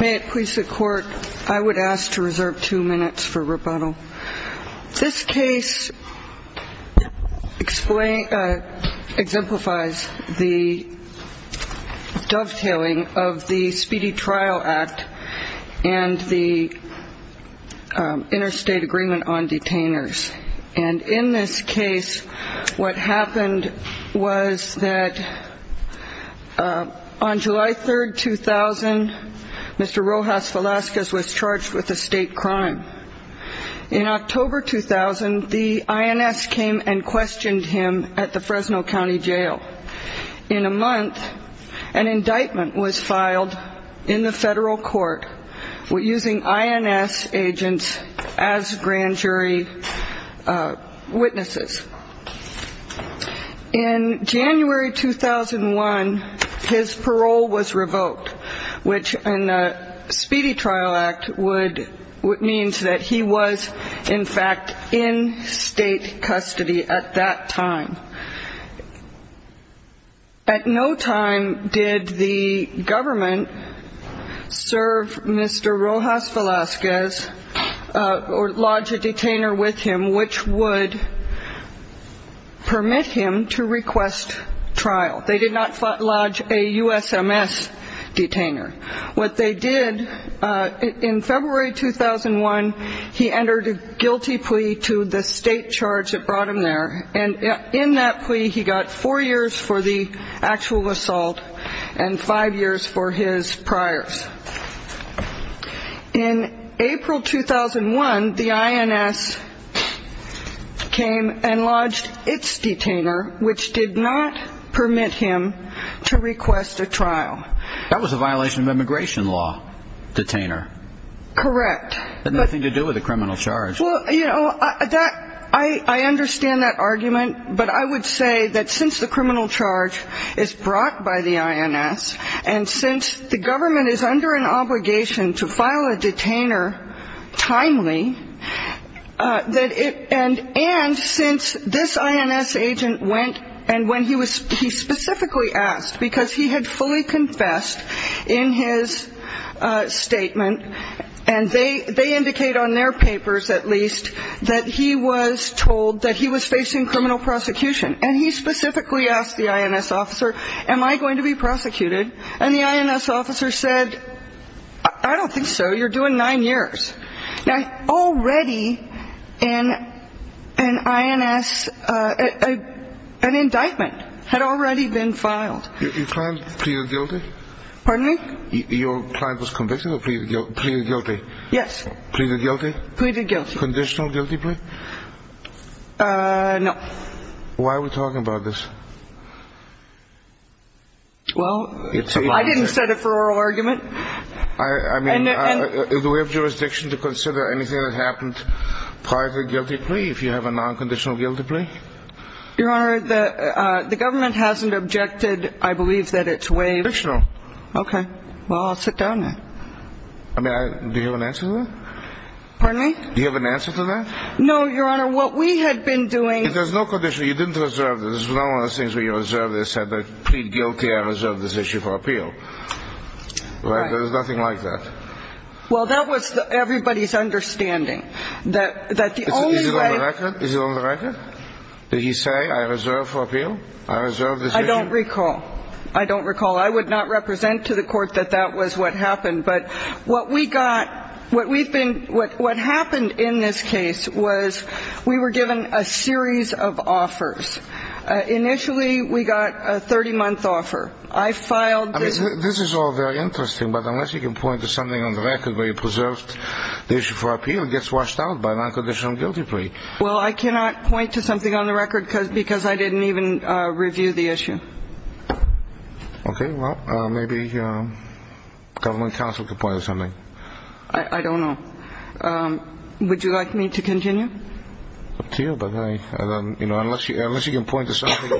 May it please the court, I would ask to reserve two minutes for rebuttal. This case exemplifies the dovetailing of the Speedy Trial Act and the Interstate Agreement on Detainers. And in this case, what happened was that on July 3, 2000, Mr. Rojas-Velasquez was charged with a state crime. In October 2000, the INS came and questioned him at the Fresno County Jail. In a month, an indictment was filed in the federal court using INS agents as grand jury witnesses. In January 2001, his parole was revoked, which in the Speedy Trial Act means that he was, in fact, in state custody at that time. At no time did the government serve Mr. Rojas-Velasquez or lodge a detainer with him which would permit him to request trial. They did not lodge a USMS detainer. What they did in February 2001, he entered a guilty plea to the state charge that brought him there. And in that plea, he got four years for the actual assault and five years for his priors. In April 2001, the INS came and lodged its detainer, which did not permit him to request a trial. That was a violation of immigration law, detainer. Correct. Had nothing to do with the criminal charge. Well, you know, that ‑‑ I understand that argument, but I would say that since the criminal charge is brought by the INS, and since the government is under an obligation to file a detainer timely, that it ‑‑ and since this INS agent went and when he was ‑‑ because he had fully confessed in his statement, and they indicate on their papers, at least, that he was told that he was facing criminal prosecution. And he specifically asked the INS officer, am I going to be prosecuted? And the INS officer said, I don't think so. You're doing nine years. Now, already in an INS ‑‑ an indictment had already been filed. Your client pleaded guilty? Pardon me? Your client was convicted or pleaded guilty? Yes. Pleaded guilty? Pleaded guilty. Conditional guilty plea? No. Why are we talking about this? Well, I didn't set it for oral argument. I mean, do we have jurisdiction to consider anything that happened prior to the guilty plea if you have a non‑conditional guilty plea? Your Honor, the government hasn't objected. I believe that it's way ‑‑ Conditional. Okay. Well, I'll sit down then. I mean, do you have an answer to that? Pardon me? Do you have an answer to that? No, Your Honor. What we had been doing ‑‑ If there's no condition, you didn't reserve this. This is not one of those things where you reserve this and plead guilty, I reserve this issue for appeal. Right. There's nothing like that. Well, that was everybody's understanding. That the only way ‑‑ Is it on the record? Is it on the record? Did he say, I reserve for appeal? I reserve this issue? I don't recall. I don't recall. I would not represent to the court that that was what happened. But what we got ‑‑ what we've been ‑‑ what happened in this case was we were given a series of offers. Initially, we got a 30‑month offer. I filed ‑‑ I mean, this is all very interesting, but unless you can point to something on the record where you preserved the issue for appeal, it gets washed out by a non‑conditional guilty plea. Well, I cannot point to something on the record because I didn't even review the issue. Okay. Well, maybe government counsel can point to something. I don't know. Would you like me to continue? Up to you, but I ‑‑ unless you can point to something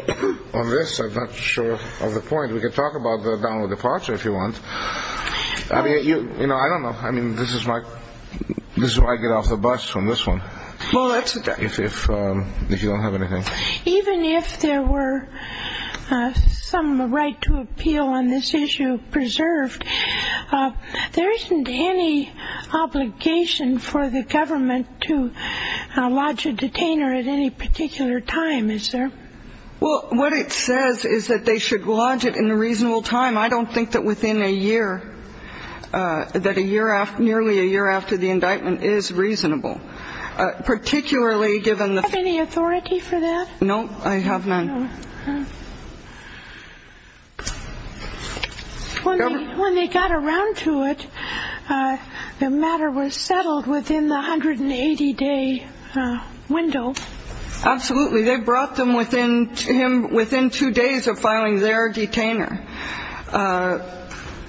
on this, I'm not sure of the point. We can talk about the download departure if you want. I don't know. I mean, this is my ‑‑ this is where I get off the bus from this one. Well, that's ‑‑ If you don't have anything. Even if there were some right to appeal on this issue preserved, there isn't any obligation for the government to lodge a detainer at any particular time, is there? Well, what it says is that they should lodge it in a reasonable time. I don't think that within a year, that a year ‑‑ nearly a year after the indictment is reasonable. Particularly given the ‑‑ Do you have any authority for that? No, I have none. When they got around to it, the matter was settled within the 180‑day window. Absolutely. They brought them within two days of filing their detainer.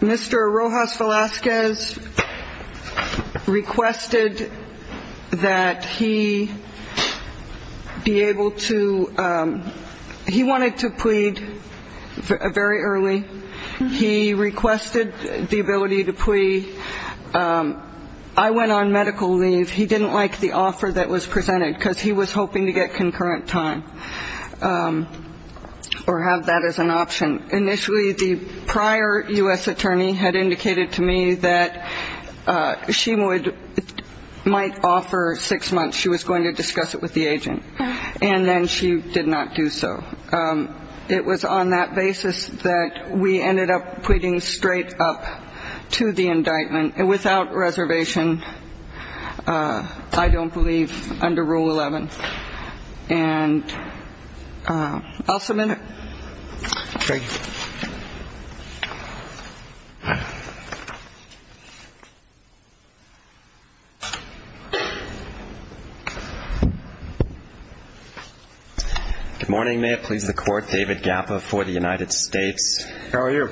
Mr. Rojas Velazquez requested that he be able to ‑‑ he wanted to plead very early. He requested the ability to plead. I went on medical leave. He didn't like the offer that was presented because he was hoping to get concurrent time or have that as an option. Initially, the prior U.S. attorney had indicated to me that she might offer six months. She was going to discuss it with the agent. And then she did not do so. It was on that basis that we ended up pleading straight up to the indictment without reservation, I don't believe, under Rule 11. And I'll submit it. Thank you. Good morning. May it please the Court. David Gappa for the United States. How are you?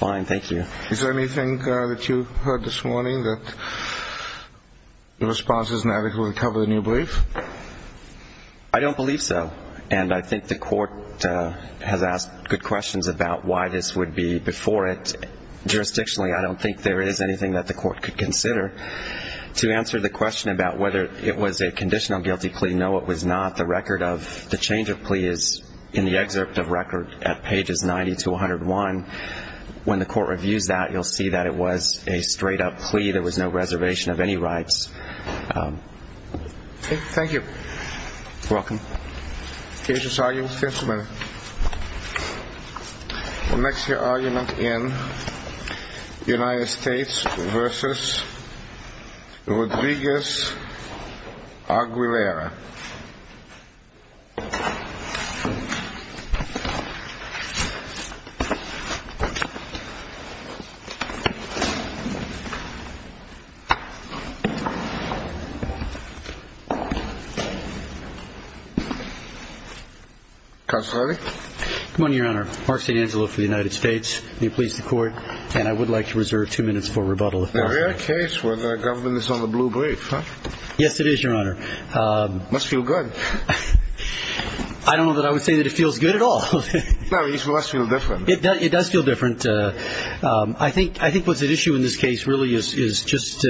Fine, thank you. Is there anything that you heard this morning that your response is inadequate to cover the new brief? I don't believe so. And I think the Court has asked good questions about why this would be before it. Jurisdictionally, I don't think there is anything that the Court could consider. To answer the question about whether it was a conditional guilty plea, no, it was not. The record of the change of plea is in the excerpt of record at pages 90 to 101. When the Court reviews that, you'll see that it was a straight-up plea. There was no reservation of any rights. Thank you. You're welcome. The case is argued in the fifth minute. The next argument in the United States v. Rodriguez-Aguilera. Counselor? Good morning, Your Honor. Mark St. Angelo for the United States. May it please the Court. And I would like to reserve two minutes for rebuttal. Is there a case where the government is on the blue brief? Yes, it is, Your Honor. It must feel good. I don't know that I would say that it feels good at all. No, it must feel different. It does feel different. I think what's at issue in this case really is just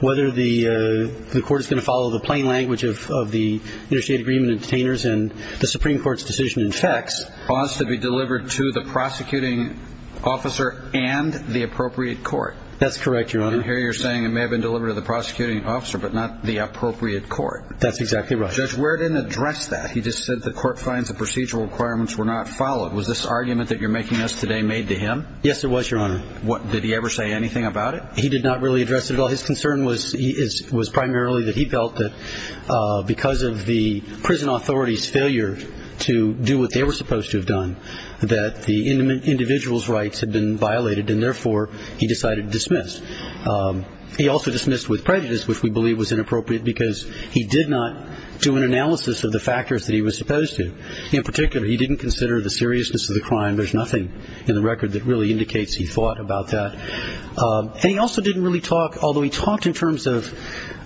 whether the Court is going to follow the plain language of the interstate agreement of detainers and the Supreme Court's decision in facts. It wants to be delivered to the prosecuting officer and the appropriate court. That's correct, Your Honor. And here you're saying it may have been delivered to the prosecuting officer but not the appropriate court. That's exactly right. Judge, we didn't address that. He just said the Court finds the procedural requirements were not followed. Was this argument that you're making us today made to him? Yes, it was, Your Honor. Did he ever say anything about it? He did not really address it at all. His concern was primarily that he felt that because of the prison authority's failure to do what they were supposed to have done, that the individual's rights had been violated and therefore he decided to dismiss. He also dismissed with prejudice, which we believe was inappropriate because he did not do an analysis of the factors that he was supposed to. In particular, he didn't consider the seriousness of the crime. There's nothing in the record that really indicates he thought about that. And he also didn't really talk, although he talked in terms of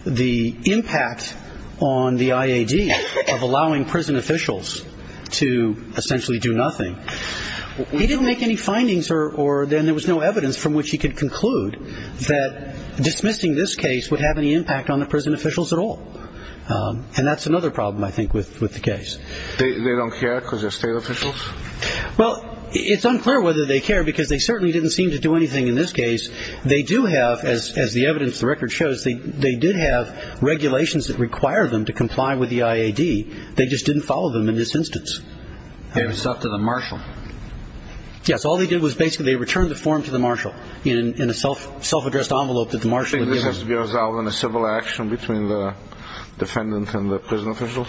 the impact on the IAD of allowing prison officials to essentially do nothing, he didn't make any findings or then there was no evidence from which he could conclude that dismissing this case would have any impact on the prison officials at all. And that's another problem, I think, with the case. They don't care because they're state officials? Well, it's unclear whether they care because they certainly didn't seem to do anything in this case. They do have, as the evidence in the record shows, they did have regulations that require them to comply with the IAD. They just didn't follow them in this instance. They resort to the marshal? Yes, all they did was basically return the form to the marshal in a self-addressed envelope that the marshal had given them. Do you think this has to be resolved in a civil action between the defendant and the prison officials?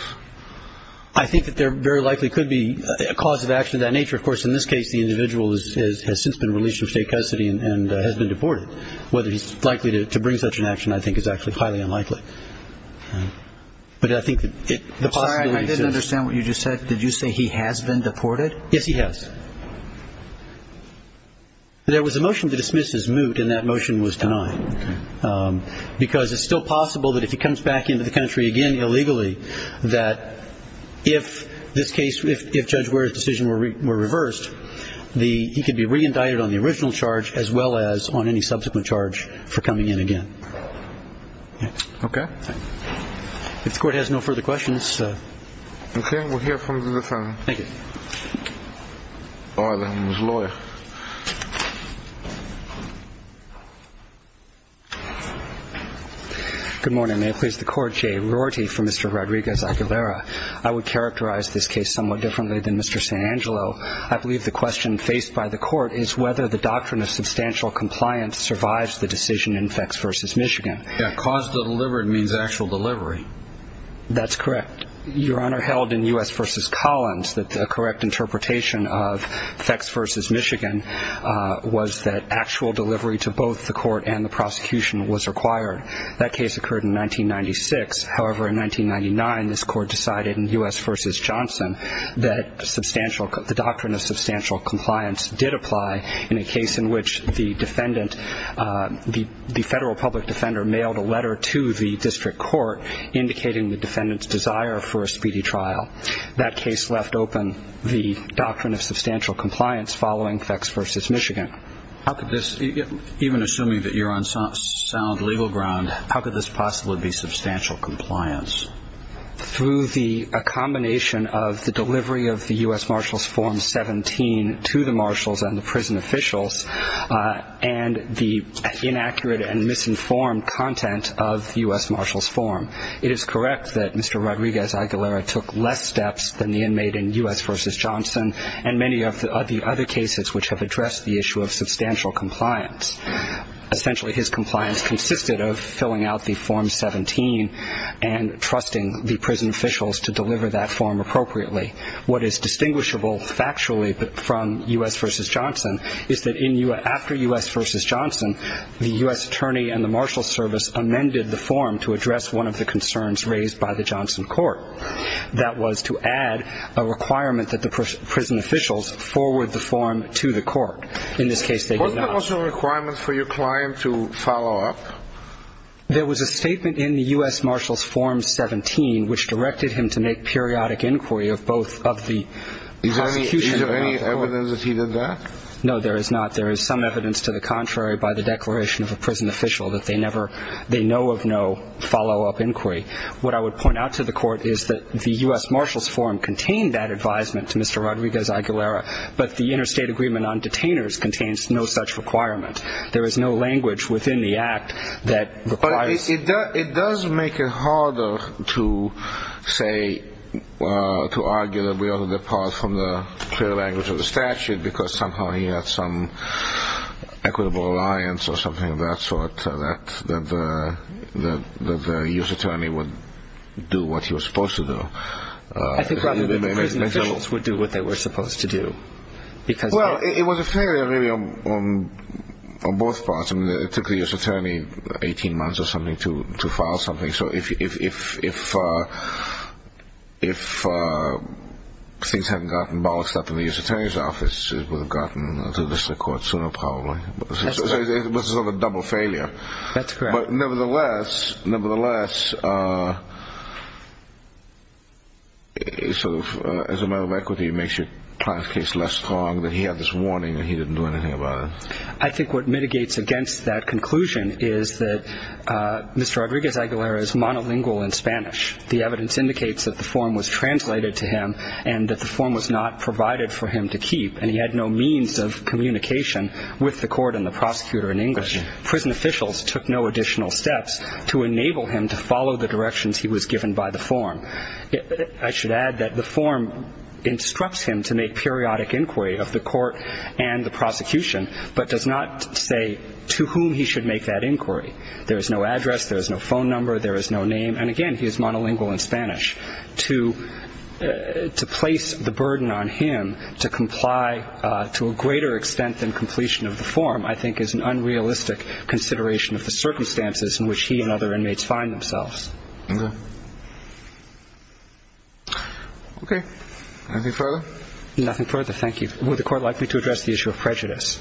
I think that there very likely could be a cause of action of that nature. Of course, in this case, the individual has since been released from state custody and has been deported. Whether he's likely to bring such an action, I think, is actually highly unlikely. But I think that the possibility is... I'm sorry, I didn't understand what you just said. Did you say he has been deported? Yes, he has. There was a motion to dismiss his moot and that motion was denied because it's still possible that if he comes back into the country again illegally that if this case, if Judge Ware's decision were reversed, he could be re-indicted on the original charge as well as on any subsequent charge for coming in again. Okay. If the Court has no further questions... Okay, we'll hear from the defendant. Thank you. Oh, that one was lawyer. Good morning. May I please the Court? Jay Rorty for Mr. Rodriguez-Aguilera. I would characterize this case somewhat differently than Mr. St. Angelo. I believe the question faced by the Court is whether the doctrine of substantial compliance survives the decision in Fex v. Michigan. Yeah, cause delivered means actual delivery. That's correct. Your Honor, held in U.S. v. Collins, the correct interpretation of Fex v. Michigan was that actual delivery to both the Court and the prosecution was required. That case occurred in 1996. However, in 1999, this Court decided in U.S. v. Johnson that the doctrine of substantial compliance did apply in a case in which the defendant, the federal public defender mailed a letter to the district court indicating the defendant's desire for a speedy trial. That case left open the doctrine of substantial compliance following Fex v. Michigan. Even assuming that you're on sound legal ground, how could this possibly be substantial compliance? Through a combination of the delivery of the U.S. Marshals Form 17 to the marshals and the prison officials and the inaccurate and misinformed content of U.S. Marshals Form. It is correct that Mr. Rodriguez-Aguilera took less steps than the inmate in U.S. v. Johnson and many of the other cases which have addressed the issue of substantial compliance. Essentially, his compliance consisted of filling out the Form 17 and trusting the prison officials to deliver that form appropriately. What is distinguishable factually from U.S. v. Johnson is that after U.S. v. Johnson, the U.S. Attorney and the Marshals Service amended the form to address one of the concerns raised by the Johnson court. That was to add a requirement that the prison officials forward the form to the court. In this case, they did not. Wasn't there also a requirement for your client to follow up? There was a statement in the U.S. Marshals Form 17 which directed him to make periodic inquiry of the prosecution. Is there any evidence that he did that? No, there is not. There is some evidence to the contrary by the declaration of a prison official that they know of no follow-up inquiry. What I would point out to the court is that the U.S. Marshals Form contained that advisement to Mr. Rodriguez-Aguilera but the interstate agreement on detainers There is no language within the act that requires... But it does make it harder to argue that we ought to depart from the clear language of the statute because somehow he had some equitable alliance or something of that sort that the U.S. Attorney would do what he was supposed to do. I think rather that the prison officials would do what they were supposed to do. Well, it was a failure really on both parts. It took the U.S. Attorney 18 months or something to file something So if if things hadn't gotten balled up in the U.S. Attorney's office it would have gotten to the court sooner probably. It was sort of a double failure. That's correct. But nevertheless as a matter of equity it makes your client's case less strong that he had this warning that he didn't do anything about it. I think what mitigates against that conclusion is that Mr. Rodriguez-Aguilera is monolingual in Spanish. The evidence indicates that the form was translated to him and that the form was not provided for him to keep and he had no means of communication with the court and the prosecutor in English. Prison officials took no additional steps to enable him to follow the directions he was given by the form. I should add that the form instructs him to make periodic inquiry of the court and the prosecution but does not say to whom he should make that inquiry. There is no address, there is no phone number, there is no name and again he is monolingual in Spanish. To place the burden on him to comply to a greater extent than completion of the form I think is an unrealistic consideration of the circumstances in which he and other inmates find themselves. Okay. Nothing further? Nothing further. Thank you. Would the court like me to address the issue of prejudice?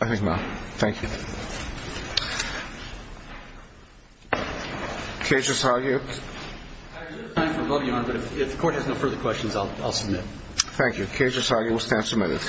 I think not. Thank you. Case is argued. If the court has no further questions, I'll submit. Thank you. Case is argued. We'll stand submitted.